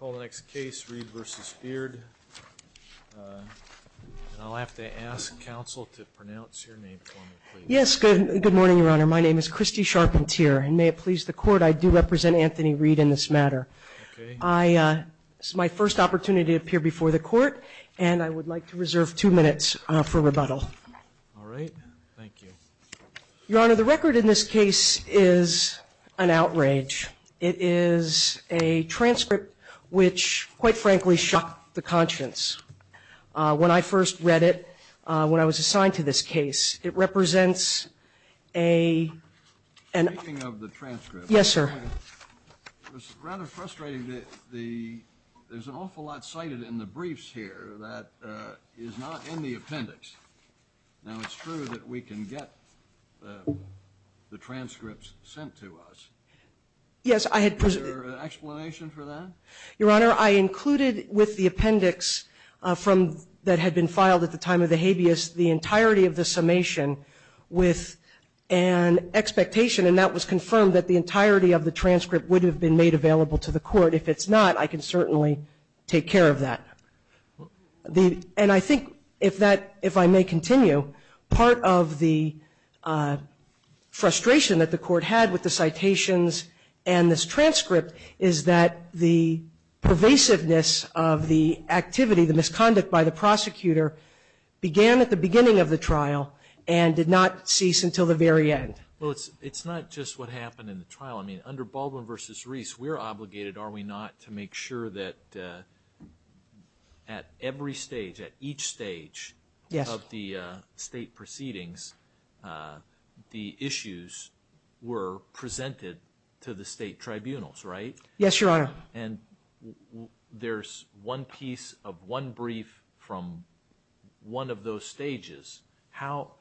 I'll have to ask counsel to pronounce your name for me, please. Yes, good morning, Your Honor. My name is Christy Charpentier, and may it please the Court, I do represent Anthony Reed in this matter. Okay. This is my first opportunity to appear before the Court, and I would like to reserve two minutes for rebuttal. All right. Thank you. Your Honor, the record in this case is an outrage. It is a transcript which, quite frankly, shocked the conscience. When I first read it, when I was assigned to this case, it represents a... Speaking of the transcript... Yes, sir. It was rather frustrating that there's an awful lot cited in the briefs here that is not in the appendix. Now, it's true that we can get the transcripts sent to us. Yes, I had... Is there an explanation for that? Your Honor, I included with the appendix that had been filed at the time of the habeas the entirety of the summation with an expectation, and that was confirmed, that the entirety of the transcript would have been made available to the Court. If it's not, I can certainly take care of that. And I think, if I may continue, part of the frustration that the Court had with the citations and this transcript is that the pervasiveness of the activity, the misconduct by the prosecutor, began at the beginning of the trial and did not cease until the very end. Well, it's not just what happened in the trial. I mean, under Baldwin v. Reese, we're obligated, are we not, to make sure that at every stage, at each stage... Yes. ...of the state proceedings, the issues were presented to the state tribunals, right? Yes, Your Honor. And there's one piece of one brief from one of those stages. How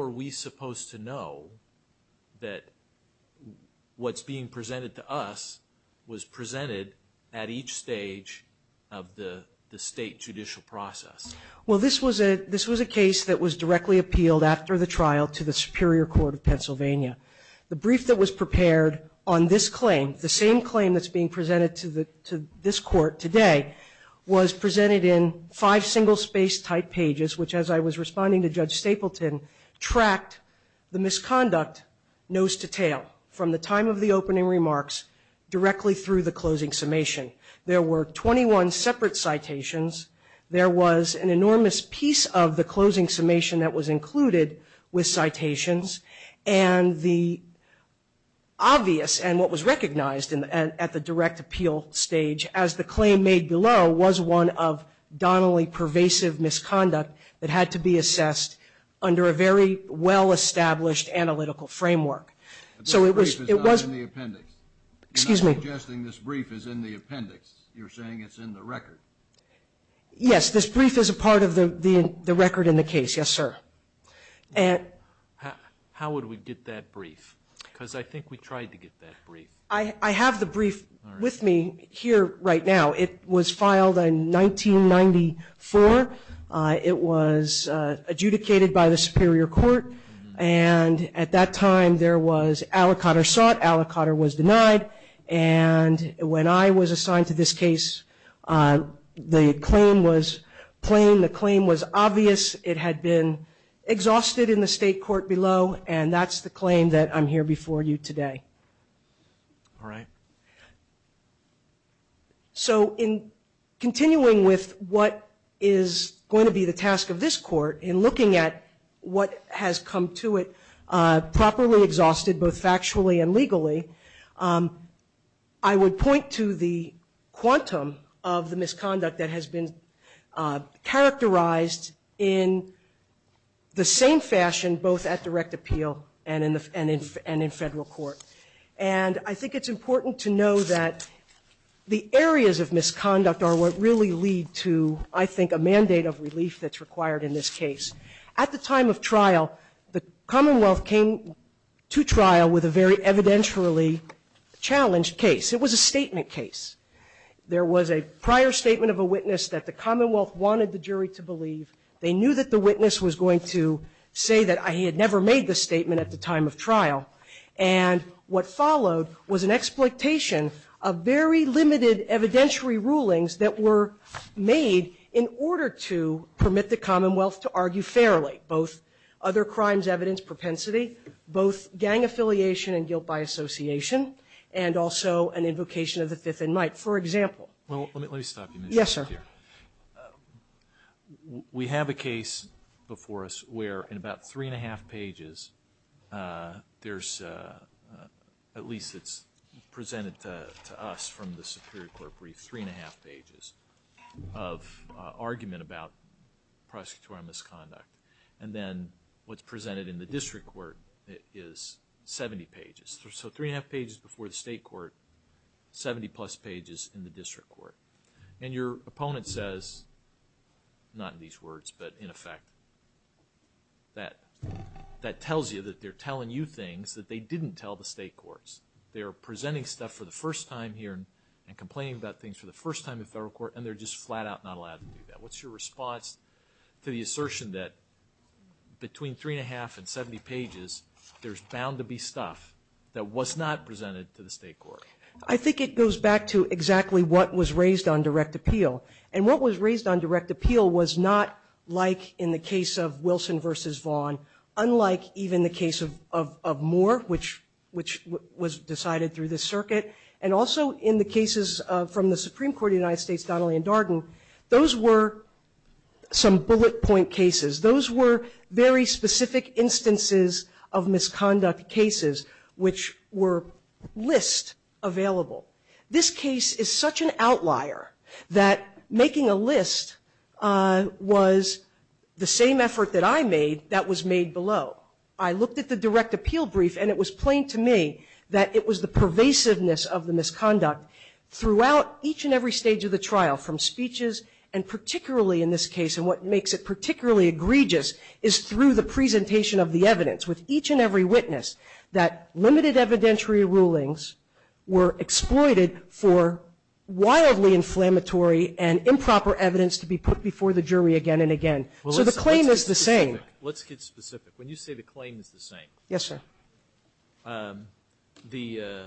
are we supposed to know that what's being presented to us was presented at each stage of the state judicial process? Well, this was a case that was directly appealed after the trial to the Superior Court of Pennsylvania. The brief that was prepared on this claim, the same claim that's being presented to this Court today, was presented in five single-space-type pages, which, as I was responding to Judge Stapleton, tracked the misconduct nose-to-tail from the time of the opening remarks directly through the closing summation. There were 21 separate citations. There was an enormous piece of the closing summation that was included with citations, and the obvious and what was recognized at the direct appeal stage, as the claim made below, was one of donnelly pervasive misconduct that had to be assessed under a very well-established analytical framework. So it was... This brief is not in the appendix. Excuse me? You're not suggesting this brief is in the appendix. You're saying it's in the record. Yes, this brief is a part of the record in the case, yes, sir. How would we get that brief? Because I think we tried to get that brief. I have the brief with me here right now. It was filed in 1994. It was adjudicated by the Superior Court, and at that time there was aliquot or sought, aliquot or was denied, and when I was assigned to this case, the claim was plain. The claim was obvious. It had been exhausted in the state court below, and that's the claim that I'm here before you today. All right. So in continuing with what is going to be the task of this court, in looking at what has come to it properly exhausted, both factually and legally, I would point to the quantum of the misconduct that has been characterized in the same fashion, both at direct appeal and in federal court, and I think it's important to know that the areas of misconduct are what really lead to, I think, a mandate of relief that's required in this case. At the time of trial, the Commonwealth came to trial with a very evidentially challenged case. It was a statement case. There was a prior statement of a witness that the Commonwealth wanted the jury to believe. They knew that the witness was going to say that he had never made the statement at the time of trial, and what followed was an exploitation of very limited evidentiary rulings that were made in order to permit the Commonwealth to argue fairly, both other crimes, evidence, propensity, both gang affiliation and guilt by association, and also an invocation of the fifth in might, for example. Well, let me stop you there. Yes, sir. We have a case before us where, in about three and a half pages, there's, at least it's presented to us from the Superior Court brief, three and a half pages of argument about prosecutorial misconduct, and then what's presented in the district court is 70 pages. So, three and a half pages before the state court, 70-plus pages in the district court, and your opponent says, not in these words, but in effect, that tells you that they're telling you things that they didn't tell the state courts. They're presenting stuff for the first time here and complaining about things for the first time in federal court, and they're just flat out not allowed to do that. What's your response to the assertion that between three and a half and 70 pages, there's bound to be stuff that was not presented to the state court? I think it goes back to exactly what was raised on direct appeal, and what was raised on direct appeal was not like in the case of Wilson v. Vaughn, unlike even the case of Moore, which was decided through the circuit, and also in the cases from the Supreme Court of the United States, Donnelly and Darden, those were some bullet point cases. Those were very specific instances of misconduct cases, which were list available. This case is such an outlier that making a list was the same effort that I made that was made below. I looked at the direct appeal brief, and it was plain to me that it was the pervasiveness of the misconduct throughout each and every stage of the trial from speeches, and particularly in this case, and what makes it particularly egregious is through the presentation of the evidence with each and every witness that limited evidentiary rulings were exploited for wildly inflammatory and improper evidence to be put before the jury again and again. So the claim is the same. Let's get specific. When you say the claim is the same, the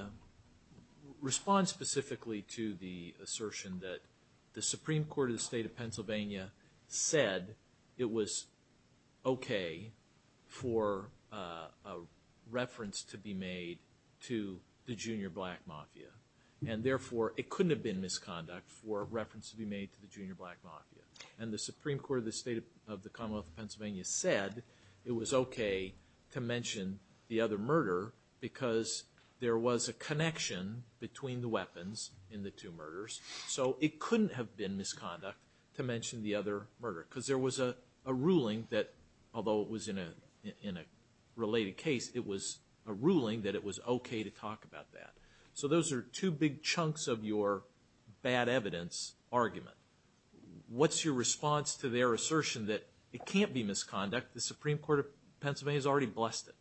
response specifically to the assertion that the Supreme Court of the State of reference to be made to the junior black mafia, and therefore it couldn't have been misconduct for reference to be made to the junior black mafia, and the Supreme Court of the State of the Commonwealth of Pennsylvania said it was okay to mention the other murder because there was a connection between the weapons in the two murders, so it couldn't have been misconduct to mention the other murder because there was a ruling that, although it was in a related case, it was a ruling that it was okay to talk about that. So those are two big chunks of your bad evidence argument. What's your response to their assertion that it can't be misconduct? The Supreme Court of Pennsylvania has already blessed it.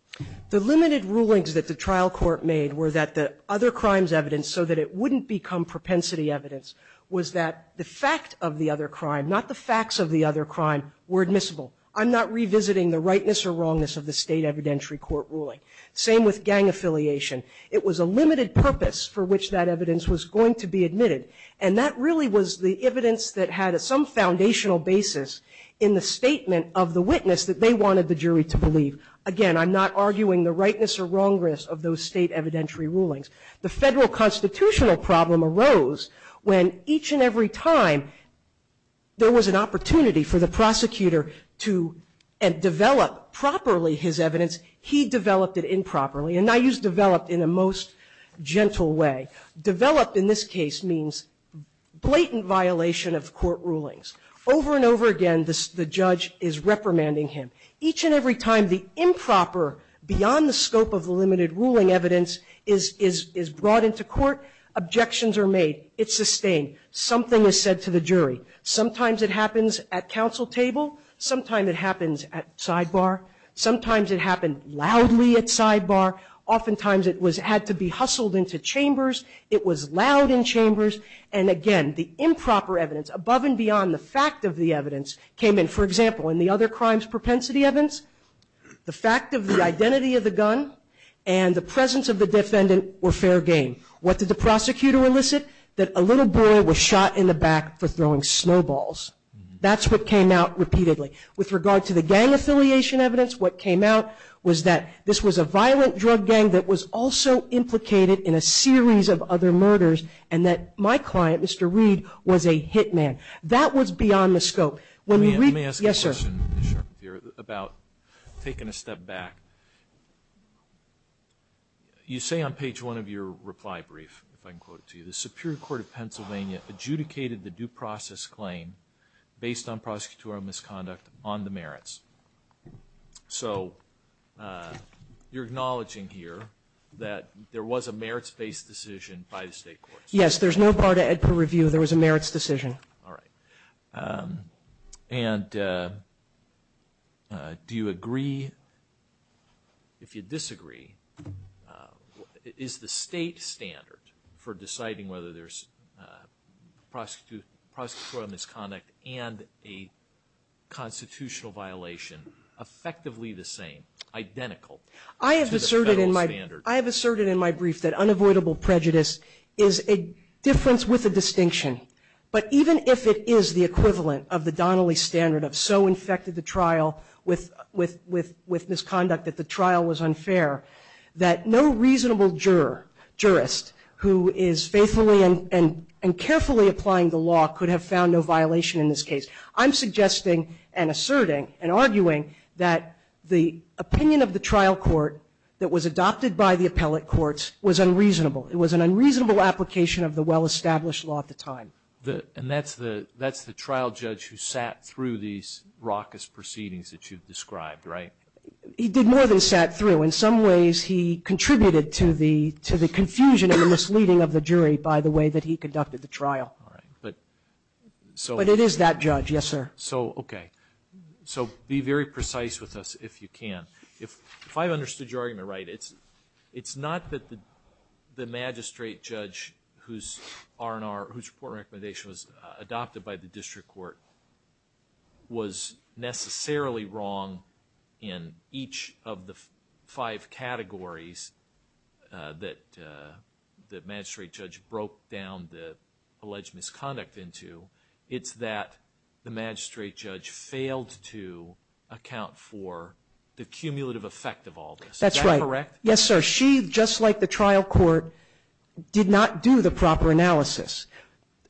The limited rulings that the trial court made were that the other crimes evidence, so that it wouldn't become propensity evidence, was that the fact of the other crime, not the facts of the other crime, were admissible. I'm not revisiting the rightness or wrongness of the state evidentiary court ruling. Same with gang affiliation. It was a limited purpose for which that evidence was going to be admitted, and that really was the evidence that had some foundational basis in the statement of the witness that they wanted the jury to believe. Again, I'm not arguing the rightness or wrongness of those state evidentiary rulings. The federal constitutional problem arose when each and every time there was an opportunity for the prosecutor to develop properly his evidence, he developed it improperly, and I use developed in a most gentle way. Developed in this case means blatant violation of court rulings. Over and over again, the judge is reprimanding him. Each and every time the improper, beyond the scope of the limited ruling evidence, is brought into court, objections are made. It's sustained. Something is said to the jury. Sometimes it happens at counsel table. Sometimes it happens at sidebar. Sometimes it happened loudly at sidebar. Oftentimes it had to be hustled into chambers. It was loud in chambers. And again, the improper evidence, above and beyond the fact of the evidence, came in, for example, in the other crimes propensity evidence, the fact of the identity of the gun and the presence of the defendant were fair game. What did the prosecutor elicit? That a little boy was shot in the back for throwing snowballs. That's what came out repeatedly. With regard to the gang affiliation evidence, what came out was that this was a violent drug gang that was also implicated in a series of other murders and that my client, Mr. Reed, was a hit man. That was beyond the scope. When we read the case. Alitoson Let me ask a question about taking a step back. You say on page 1 of your reply brief, if I can quote it to you, the Superior Court of Pennsylvania adjudicated the due process claim based on prosecutorial misconduct on the merits. So you're acknowledging here that there was a merits-based decision by the State courts. There's no part of Edper review. There was a merits decision. All right. And do you agree, if you disagree, is the state standard for deciding whether there's prosecutorial misconduct and a constitutional violation effectively the same, identical? I have asserted in my brief that unavoidable prejudice is a difference with a distinction. But even if it is the equivalent of the Donnelly standard of so infected the trial with misconduct that the trial was unfair, that no reasonable juror, jurist, who is faithfully and carefully applying the law could have found no violation in this case. I'm suggesting and asserting and arguing that the opinion of the trial court that was adopted by the appellate courts was unreasonable. It was an unreasonable application of the well-established law at the time. And that's the trial judge who sat through these raucous proceedings that you've described, right? He did more than sat through. In some ways he contributed to the confusion and the misleading of the jury by the way that he conducted the trial. All right. But it is that judge, yes, sir. So, okay. So be very precise with us if you can. If I understood your argument right, it's not that the magistrate judge whose R&R, whose report recommendation was adopted by the district court was necessarily wrong in each of the five categories that the magistrate judge broke down the alleged misconduct into. It's that the magistrate judge failed to account for the cumulative effect of all this. Is that correct? Yes, sir. She, just like the trial court, did not do the proper analysis.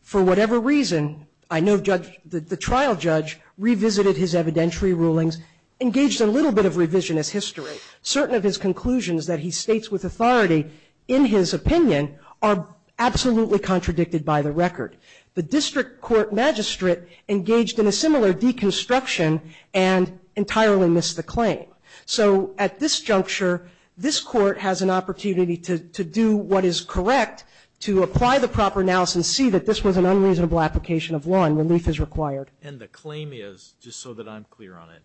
For whatever reason, I know the trial judge revisited his evidentiary rulings, engaged a little bit of revisionist history. Certain of his conclusions that he states with authority in his opinion are absolutely contradicted by the record. The district court magistrate engaged in a similar deconstruction and entirely missed the claim. So at this juncture, this court has an opportunity to do what is correct, to apply the proper analysis and see that this was an unreasonable application of law and relief is required. And the claim is, just so that I'm clear on it,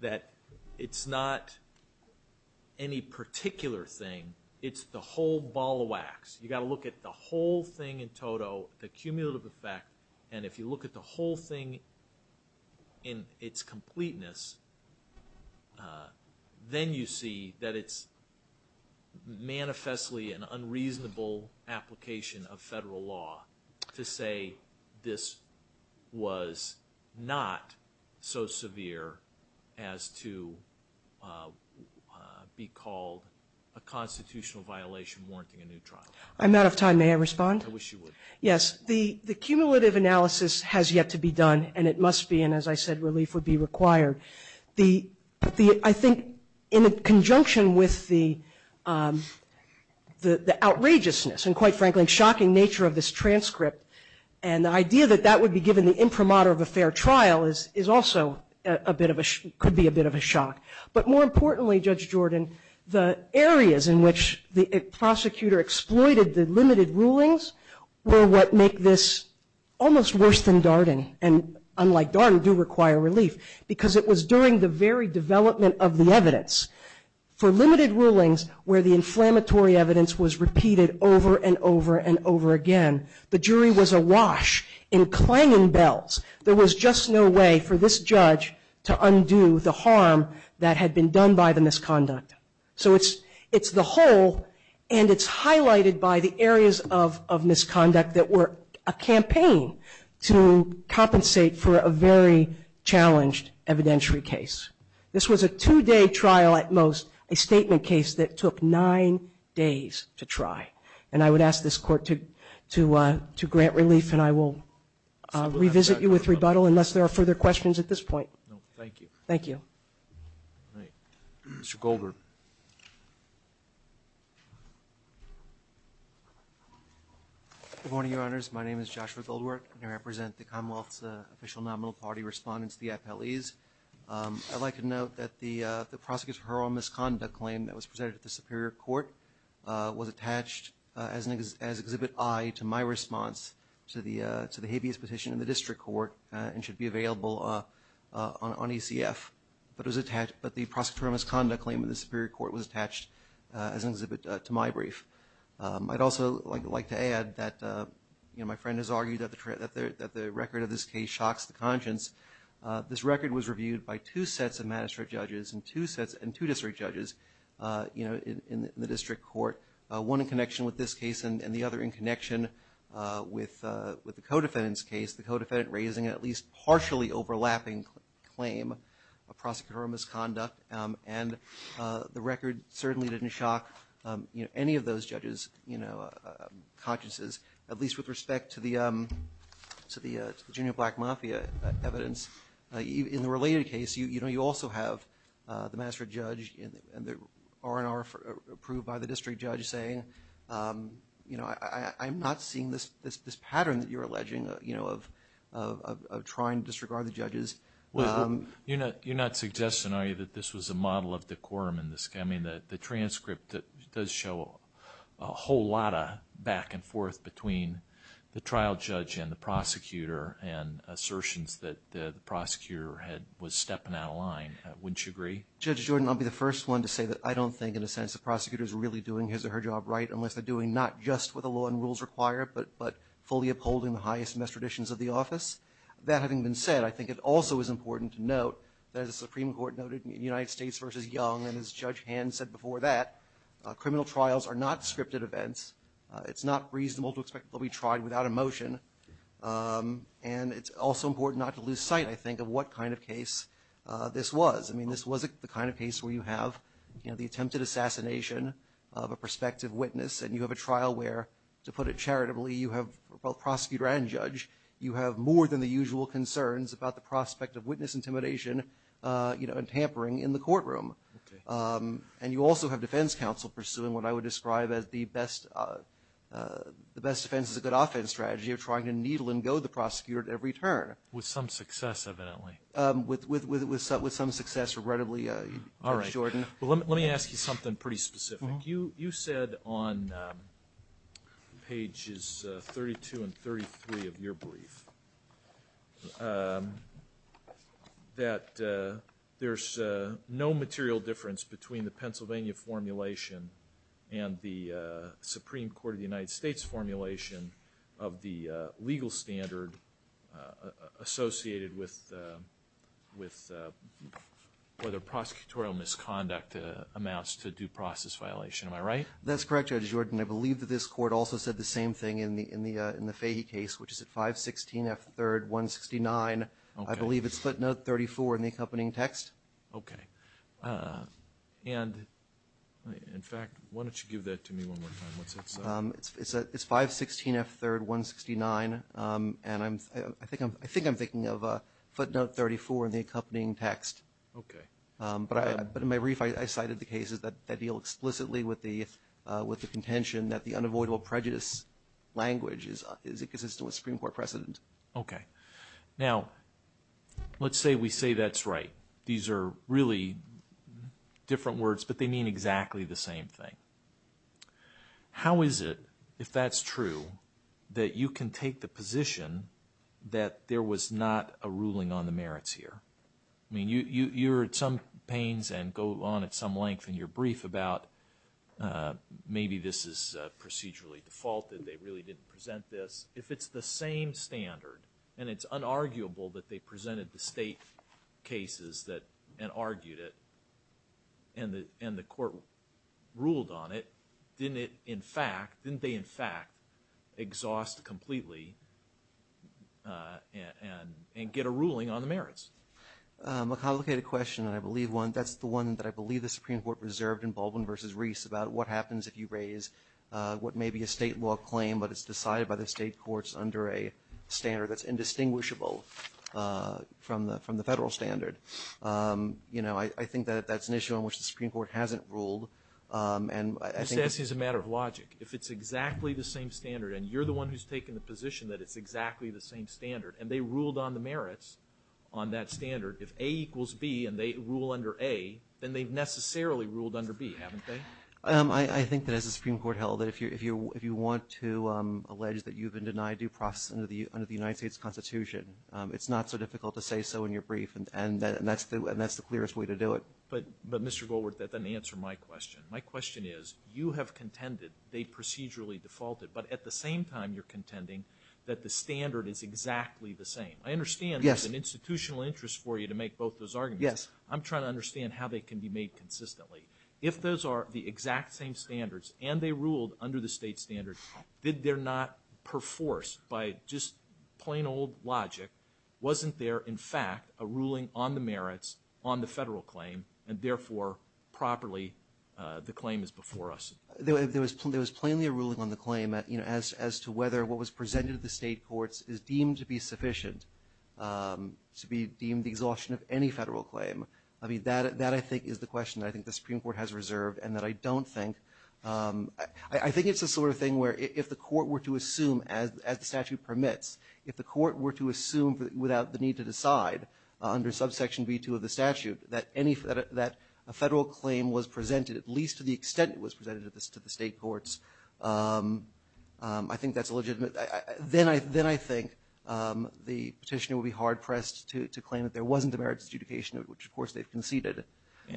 that it's not any particular thing. It's the whole ball of wax. You've got to look at the whole thing in total, the cumulative effect, and if you look at the whole thing in its completeness, then you see that it's manifestly an unreasonable application of federal law to say this was not so severe as to be called a constitutional violation warranting a new trial. I'm out of time. May I respond? I wish you would. Yes. The cumulative analysis has yet to be done, and it must be, and as I said, relief would be required. I think in conjunction with the outrageousness and, quite frankly, shocking nature of this transcript and the idea that that would be given the imprimatur of a fair trial is also a bit of a shock. But more importantly, Judge Jordan, the areas in which the prosecutor exploited the limited rulings were what make this almost worse than Darden, and unlike Darden, do require relief, because it was during the very development of the evidence. For limited rulings where the inflammatory evidence was repeated over and over and over again, the jury was awash in clanging bells. There was just no way for this judge to undo the harm that had been done by the misconduct. So it's the whole, and it's highlighted by the areas of misconduct that were a campaign to compensate for a very challenged evidentiary case. This was a two-day trial at most, a statement case that took nine days to try. And I would ask this Court to grant relief, and I will revisit you with rebuttal unless there are further questions at this point. Thank you. Thank you. Mr. Goldberg. Good morning, Your Honors. My name is Joshua Goldberg, and I represent the Commonwealth's official nominal party respondents, the FLEs. I'd like to note that the prosecutor's oral misconduct claim that was presented at the Superior Court was attached as Exhibit I to my response to the habeas petition in the District Court and should be available on ECF. But the prosecutor's oral misconduct claim in the Superior Court was attached as an exhibit to my brief. I'd also like to add that my friend has argued that the record of this case shocks the conscience. This record was reviewed by two sets of magistrate judges and two district judges in the District Court, one in connection with this case and the other in connection with the co-defendant's case, the co-defendant raising at least partially overlapping claim of prosecutor oral misconduct. And the record certainly didn't shock any of those judges' consciences, at least with respect to the Junior Black Mafia evidence. In the related case, you know, you also have the magistrate judge and the R&R approved by the district judge saying, you know, I'm not seeing this pattern that you're alleging, you know, of trying to disregard the judges. You're not suggesting, are you, that this was a model of decorum in this case? I mean, the transcript does show a whole lot of back and forth between the trial judge and the prosecutor and assertions that the prosecutor was stepping out of line. Wouldn't you agree? Judge Jordan, I'll be the first one to say that I don't think, in a sense, the prosecutor is really doing his or her job right unless they're doing not just what the law and rules require, but fully upholding the highest and best traditions of the office. That having been said, I think it also is important to note that, as the Supreme Court noted in United States v. Young, and as Judge Hand said before that, criminal trials are not scripted events. It's not reasonable to expect that they'll be tried without a motion. And it's also important not to lose sight, I think, of what kind of case this was. I mean, this wasn't the kind of case where you have, you know, the attempted assassination of a prospective witness and you have a trial where, to put it charitably, you have both prosecutor and judge, you have more than the usual concerns about the prospect of witness intimidation, you know, and tampering in the courtroom. And you also have defense counsel pursuing what I would describe as the best defense is a good offense strategy of trying to needle and go the prosecutor at every turn. With some success, evidently. With some success, regrettably, Judge Jordan. All right. Well, let me ask you something pretty specific. You said on pages 32 and 33 of your brief that there's no material difference between the Pennsylvania formulation and the Supreme Court of the United States formulation of the legal standard associated with whether prosecutorial misconduct amounts to due process violation. Am I right? That's correct, Judge Jordan. I believe that this court also said the same thing in the Fahy case, which is at 516 F3rd 169. I believe it's footnote 34 in the accompanying text. Okay. And, in fact, why don't you give that to me one more time? It's 516 F3rd 169, and I think I'm thinking of footnote 34 in the accompanying text. Okay. But in my brief, I cited the cases that deal explicitly with the contention that the unavoidable prejudice language is inconsistent with Supreme Court precedent. Okay. Now, let's say we say that's right. These are really different words, but they mean exactly the same thing. How is it, if that's true, that you can take the position that there was not a ruling on the merits here? I mean, you're at some pains and go on at some length in your brief about maybe this is procedurally defaulted, they really didn't present this. If it's the same standard and it's unarguable that they presented the state cases and argued it and the court ruled on it, didn't they, in fact, exhaust completely and get a ruling on the merits? A complicated question, and I believe that's the one that I believe the Supreme Court reserved in Baldwin v. Reese about what happens if you raise what may be a state law claim, but it's decided by the state courts under a standard that's indistinguishable from the federal standard. You know, I think that that's an issue on which the Supreme Court hasn't ruled. And I think that's a matter of logic. If it's exactly the same standard and you're the one who's taking the position that it's exactly the same standard and they ruled on the merits on that standard, if A equals B and they rule under A, then they've necessarily ruled under B, haven't they? I think that as the Supreme Court held it, if you want to allege that you've been denied due process under the United States Constitution, it's not so difficult to say so in your brief and that's the clearest way to do it. But, Mr. Goldworth, that doesn't answer my question. My question is you have contended they procedurally defaulted, but at the same time you're contending that the standard is exactly the same. I understand there's an institutional interest for you to make both those arguments. Yes. I'm trying to understand how they can be made consistently. If those are the exact same standards and they ruled under the state standard, did they not, per force, by just plain old logic, wasn't there, in fact, a ruling on the merits on the federal claim and, therefore, properly the claim is before us? There was plainly a ruling on the claim as to whether what was presented to the state courts is deemed to be sufficient to be deemed the exhaustion of any federal claim. That, I think, is the question that I think the Supreme Court has reserved and that I don't think. I think it's the sort of thing where if the court were to assume, as the statute permits, if the court were to assume without the need to decide under subsection B2 of the statute that any federal claim was presented, at least to the extent it was presented to the state courts, I think that's legitimate. Then I think the Petitioner would be hard-pressed to claim that there wasn't a merits adjudication, which, of course, they've conceded.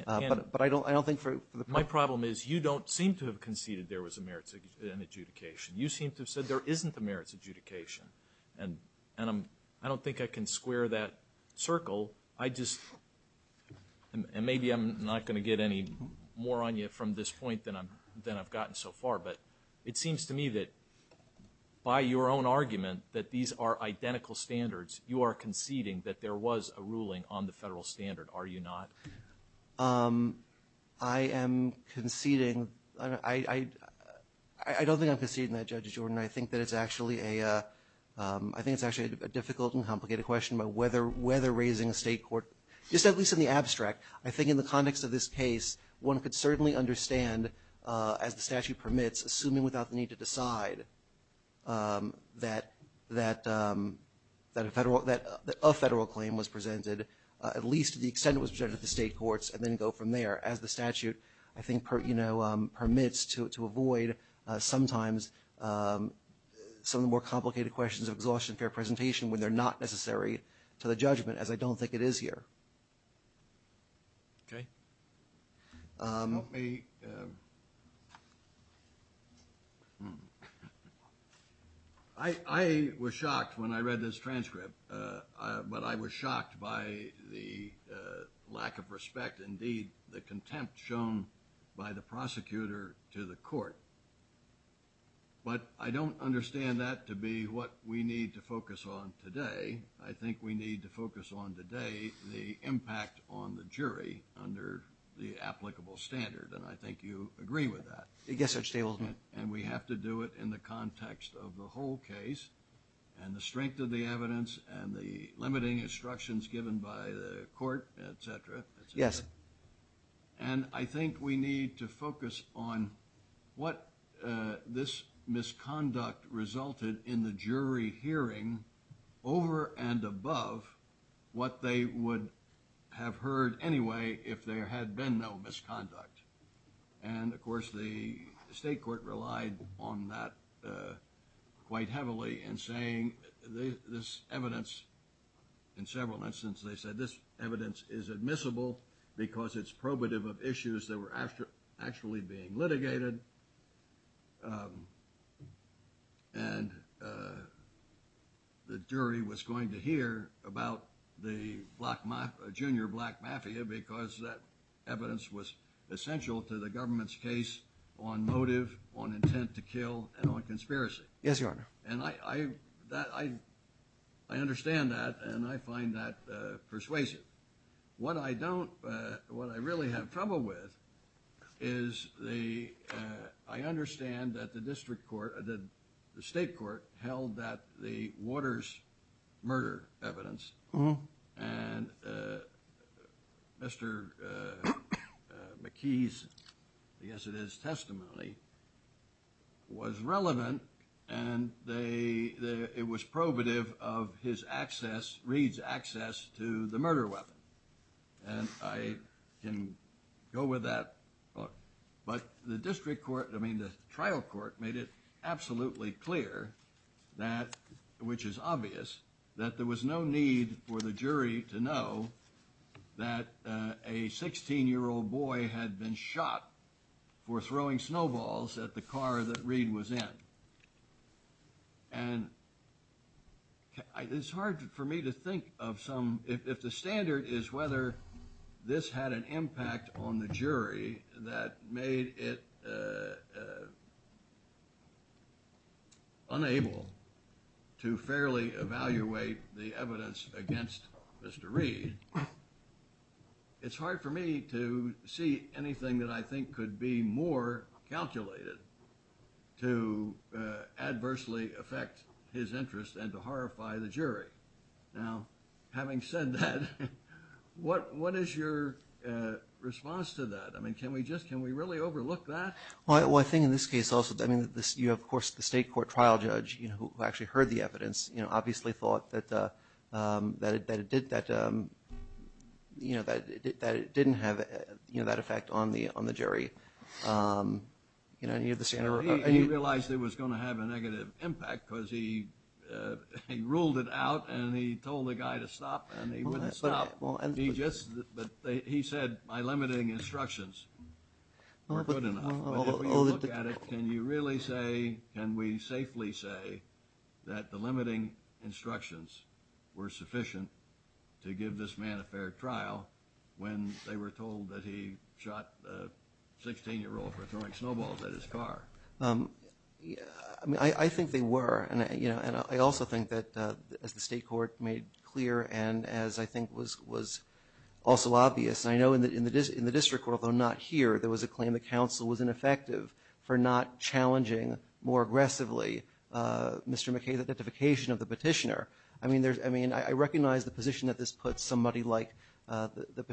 But I don't think for the purpose. My problem is you don't seem to have conceded there was a merits adjudication. You seem to have said there isn't a merits adjudication. And I don't think I can square that circle. I just, and maybe I'm not going to get any more on you from this point than I've gotten so far, but it seems to me that by your own argument that these are identical standards, you are conceding that there was a ruling on the I am conceding. I don't think I'm conceding that, Judge Jordan. I think that it's actually a difficult and complicated question about whether raising a state court, just at least in the abstract, I think in the context of this case, one could certainly understand, as the statute permits, assuming without the need to decide that a federal claim was presented, at least to the extent it was state courts and then go from there, as the statute I think permits to avoid sometimes some of the more complicated questions of exhaustion fair presentation when they're not necessary to the judgment, as I don't think it is here. Okay. Help me. I was shocked when I read this transcript. But I was shocked by the lack of respect, indeed the contempt shown by the prosecutor to the court. But I don't understand that to be what we need to focus on today. I think we need to focus on today the impact on the jury under the applicable standard, and I think you agree with that. Yes, Judge Stable. And we have to do it in the context of the whole case and the strength of the evidence and the limiting instructions given by the court, et cetera, et cetera. Yes. And I think we need to focus on what this misconduct resulted in the jury hearing over and above what they would have heard anyway if there had been no misconduct. And, of course, the state court relied on that quite heavily in saying this evidence, in several instances they said this evidence is admissible because it's probative of issues that were actually being litigated. And the jury was going to hear about the junior black mafia because that evidence was essential to the government's case on motive, on intent to kill, and on conspiracy. Yes, Your Honor. And I understand that and I find that persuasive. What I really have trouble with is I understand that the state court held that the Waters murder evidence and Mr. McKee's, I guess it is, testimony was relevant and it was probative of his access, Reid's access to the murder weapon. And I can go with that. But the district court, I mean the trial court, made it absolutely clear that, which is obvious, that there was no need for the jury to know that a 16-year-old boy had been shot for throwing snowballs at the car that Reid was in. And it's hard for me to think of some, if the standard is whether this had an effect on the jury, that made it unable to fairly evaluate the evidence against Mr. Reid. It's hard for me to see anything that I think could be more calculated to adversely affect his interest and to horrify the jury. Now, having said that, what is your response to that? I mean, can we really overlook that? Well, I think in this case also, I mean, you have, of course, the state court trial judge who actually heard the evidence, obviously thought that it didn't have that effect on the jury. He realized it was going to have a negative impact because he ruled it out and he told the guy to stop and he wouldn't stop. But he said my limiting instructions were good enough. But if we look at it, can you really say, can we safely say that the limiting instructions were sufficient to give this man a fair trial when they were told that he shot a 16-year-old for throwing snowballs at his car? I mean, I think they were. And I also think that, as the state court made clear and as I think was also obvious, I know in the district court, although not here, there was a claim the counsel was ineffective for not challenging more aggressively Mr. McKay's identification of the petitioner. I mean, I recognize the position that this puts somebody like the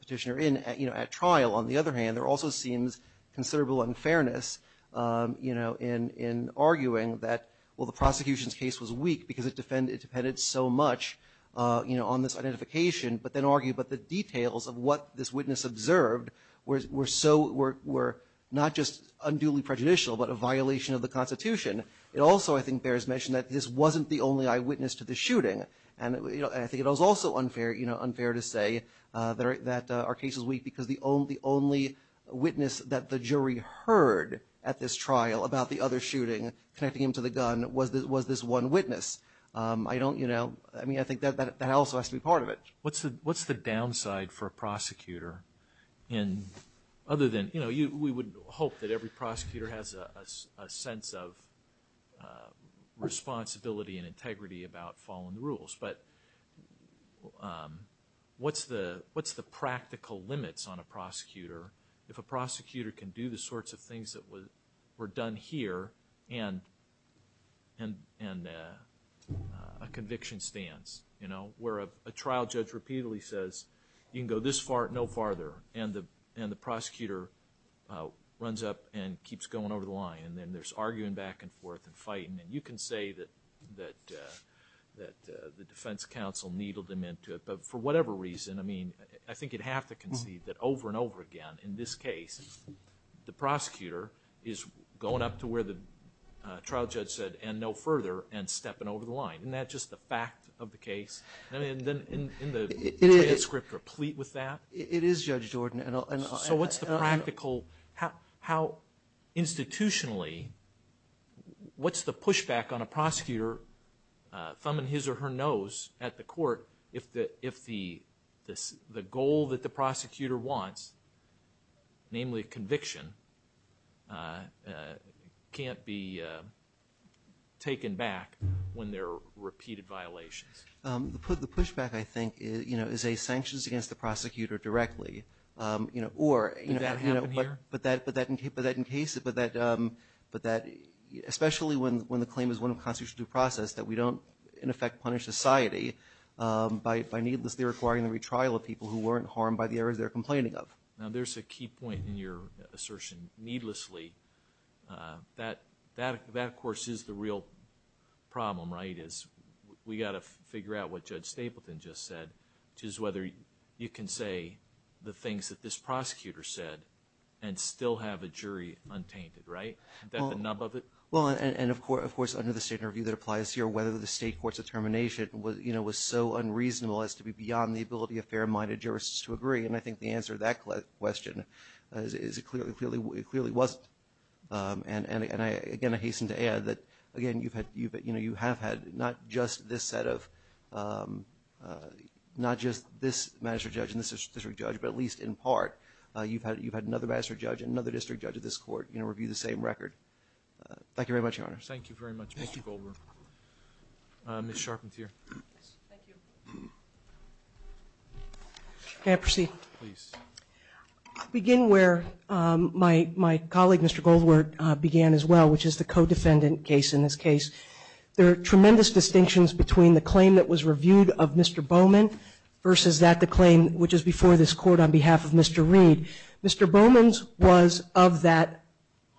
petitioner in at trial. On the other hand, there also seems considerable unfairness in arguing that, well, the prosecution's case was weak because it depended so much on this identification, but then argue about the details of what this witness observed were not just unduly prejudicial but a violation of the Constitution. It also, I think, bears mention that this wasn't the only eyewitness to the shooting. And I think it was also unfair to say that our case was weak because the only witness that the jury heard at this trial about the other shooting connecting him to the gun was this one witness. I don't, you know, I mean, I think that also has to be part of it. What's the downside for a prosecutor? And other than, you know, we would hope that every prosecutor has a sense of responsibility and integrity about following the rules, but what's the practical limits on a prosecutor if a prosecutor can do the sorts of things that were done here and a conviction stands? You know, where a trial judge repeatedly says, you can go this far, no farther, and the prosecutor runs up and keeps going over the line, and then there's arguing back and forth and fighting. And you can say that the defense counsel needled him into it, but for whatever reason, I mean, I think you'd have to concede that over and over again in this case, the prosecutor is going up to where the trial judge said, and no further, and stepping over the line. Isn't that just the fact of the case? I mean, in the transcript replete with that? It is, Judge Jordan. So what's the practical, how institutionally, what's the pushback on a prosecutor thumbing his or her nose at the court if the goal that the prosecutor wants, namely conviction, can't be taken back when there are repeated violations? The pushback, I think, is a sanctions against the prosecutor directly. Would that happen here? But that, especially when the claim is one of constitutional due process, that we don't, in effect, punish society by needlessly requiring the retrial of people who weren't harmed by the errors they're complaining of. Now, there's a key point in your assertion, needlessly. That, of course, is the real problem, right, is we've got to figure out what Judge Stapleton just said, which is whether you can say the things that this prosecutor said and still have a jury untainted, right? Is that the nub of it? Well, and, of course, under the state interview that applies here, whether the state court's determination was so unreasonable as to be beyond the ability of fair-minded jurists to agree, and I think the answer to that question is it clearly wasn't. And, again, I hasten to add that, again, you have had not just this set of – not just this magistrate judge and this district judge, but at least in part you've had another magistrate judge and another district judge of this court review the same record. Thank you very much, Your Honor. Thank you very much, Mr. Goldberg. Ms. Sharpen here. Thank you. May I proceed? Please. I'll begin where my colleague, Mr. Goldberg, began as well, which is the co-defendant case in this case. There are tremendous distinctions between the claim that was reviewed of Mr. Bowman versus that, the claim which is before this Court on behalf of Mr. Reed. Mr. Bowman's was of that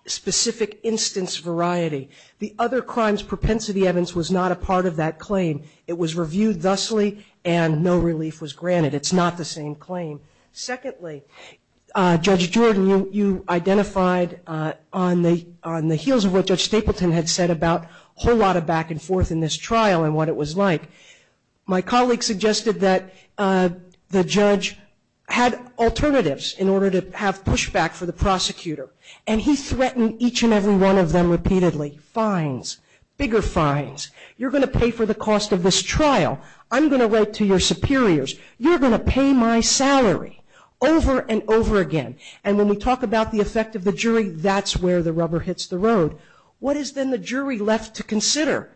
specific instance variety. The other crime's propensity evidence was not a part of that claim. It was reviewed thusly and no relief was granted. It's not the same claim. Secondly, Judge Jordan, you identified on the heels of what Judge Stapleton had said about a whole lot of back and forth in this trial and what it was like. My colleague suggested that the judge had alternatives in order to have pushback for the prosecutor, and he threatened each and every one of them repeatedly. Fines, bigger fines. You're going to pay for the cost of this trial. I'm going to write to your superiors. You're going to pay my salary over and over again. And when we talk about the effect of the jury, that's where the rubber hits the road. What is then the jury left to consider?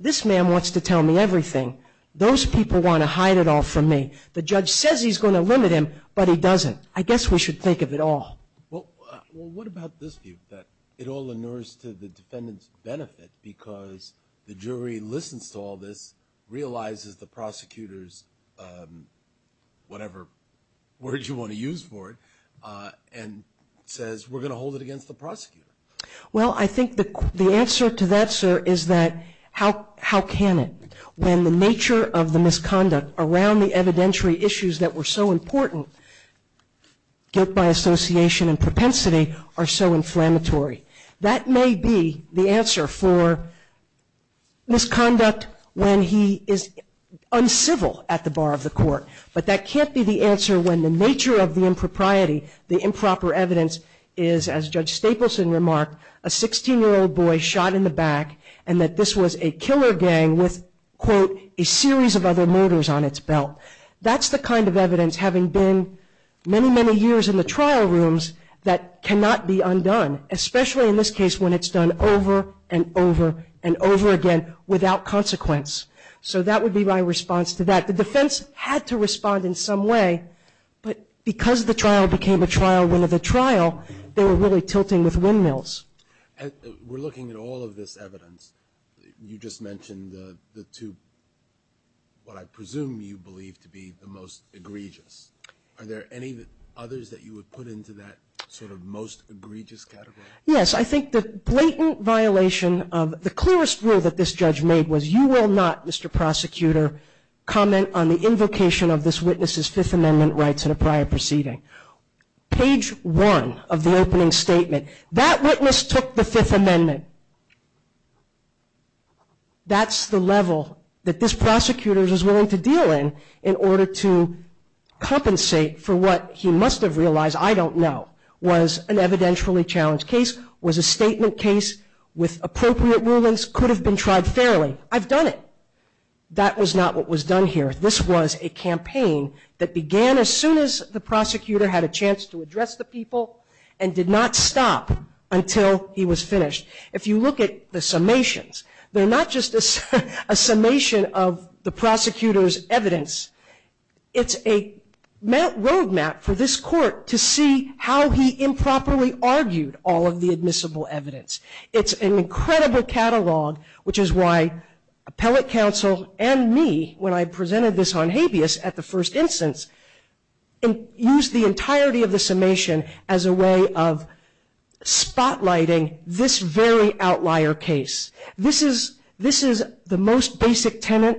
This man wants to tell me everything. Those people want to hide it all from me. The judge says he's going to limit him, but he doesn't. I guess we should think of it all. Well, what about this view, that it all inures to the defendant's benefit because the jury listens to all this, realizes the prosecutor's whatever word you want to use for it, and says we're going to hold it against the prosecutor? Well, I think the answer to that, sir, is that how can it? When the nature of the misconduct around the evidentiary issues that were so important, guilt by association and propensity, are so inflammatory. That may be the answer for misconduct when he is uncivil at the bar of the court, but that can't be the answer when the nature of the impropriety, the improper evidence, is, as Judge Stapleson remarked, a 16-year-old boy shot in the back and that this was a killer gang with, quote, a series of other murders on its belt. That's the kind of evidence, having been many, many years in the trial rooms, that cannot be undone, especially in this case when it's done over and over and over again without consequence. So that would be my response to that. The defense had to respond in some way, but because the trial became a trial, win of the trial, they were really tilting with windmills. We're looking at all of this evidence. You just mentioned the two, what I presume you believe to be the most egregious. Are there any others that you would put into that sort of most egregious category? Yes. I think the blatant violation of the clearest rule that this judge made was, you will not, Mr. Prosecutor, comment on the invocation of this witness's Fifth Amendment rights in a prior proceeding. Page one of the opening statement, that witness took the Fifth Amendment. That's the level that this prosecutor was willing to deal in in order to compensate for what he must have realized, I don't know, was an evidentially challenged case, was a statement case with appropriate rulings, could have been tried fairly. I've done it. That was not what was done here. This was a campaign that began as soon as the prosecutor had a chance to address the people and did not stop until he was finished. If you look at the summations, they're not just a summation of the prosecutor's evidence. It's a road map for this court to see how he improperly argued all of the admissible evidence. It's an incredible catalog, which is why appellate counsel and me, when I presented this on habeas at the first instance, used the entirety of the summation as a way of spotlighting this very outlier case. This is the most basic tenant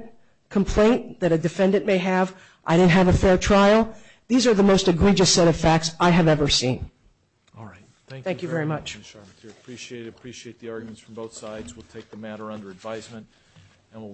complaint that a defendant may have, I didn't have a fair trial. These are the most egregious set of facts I have ever seen. All right. Thank you very much. Thank you very much, Mr. Armitage. Appreciate it. Appreciate the arguments from both sides. We'll take the matter under advisement and we'll recess court.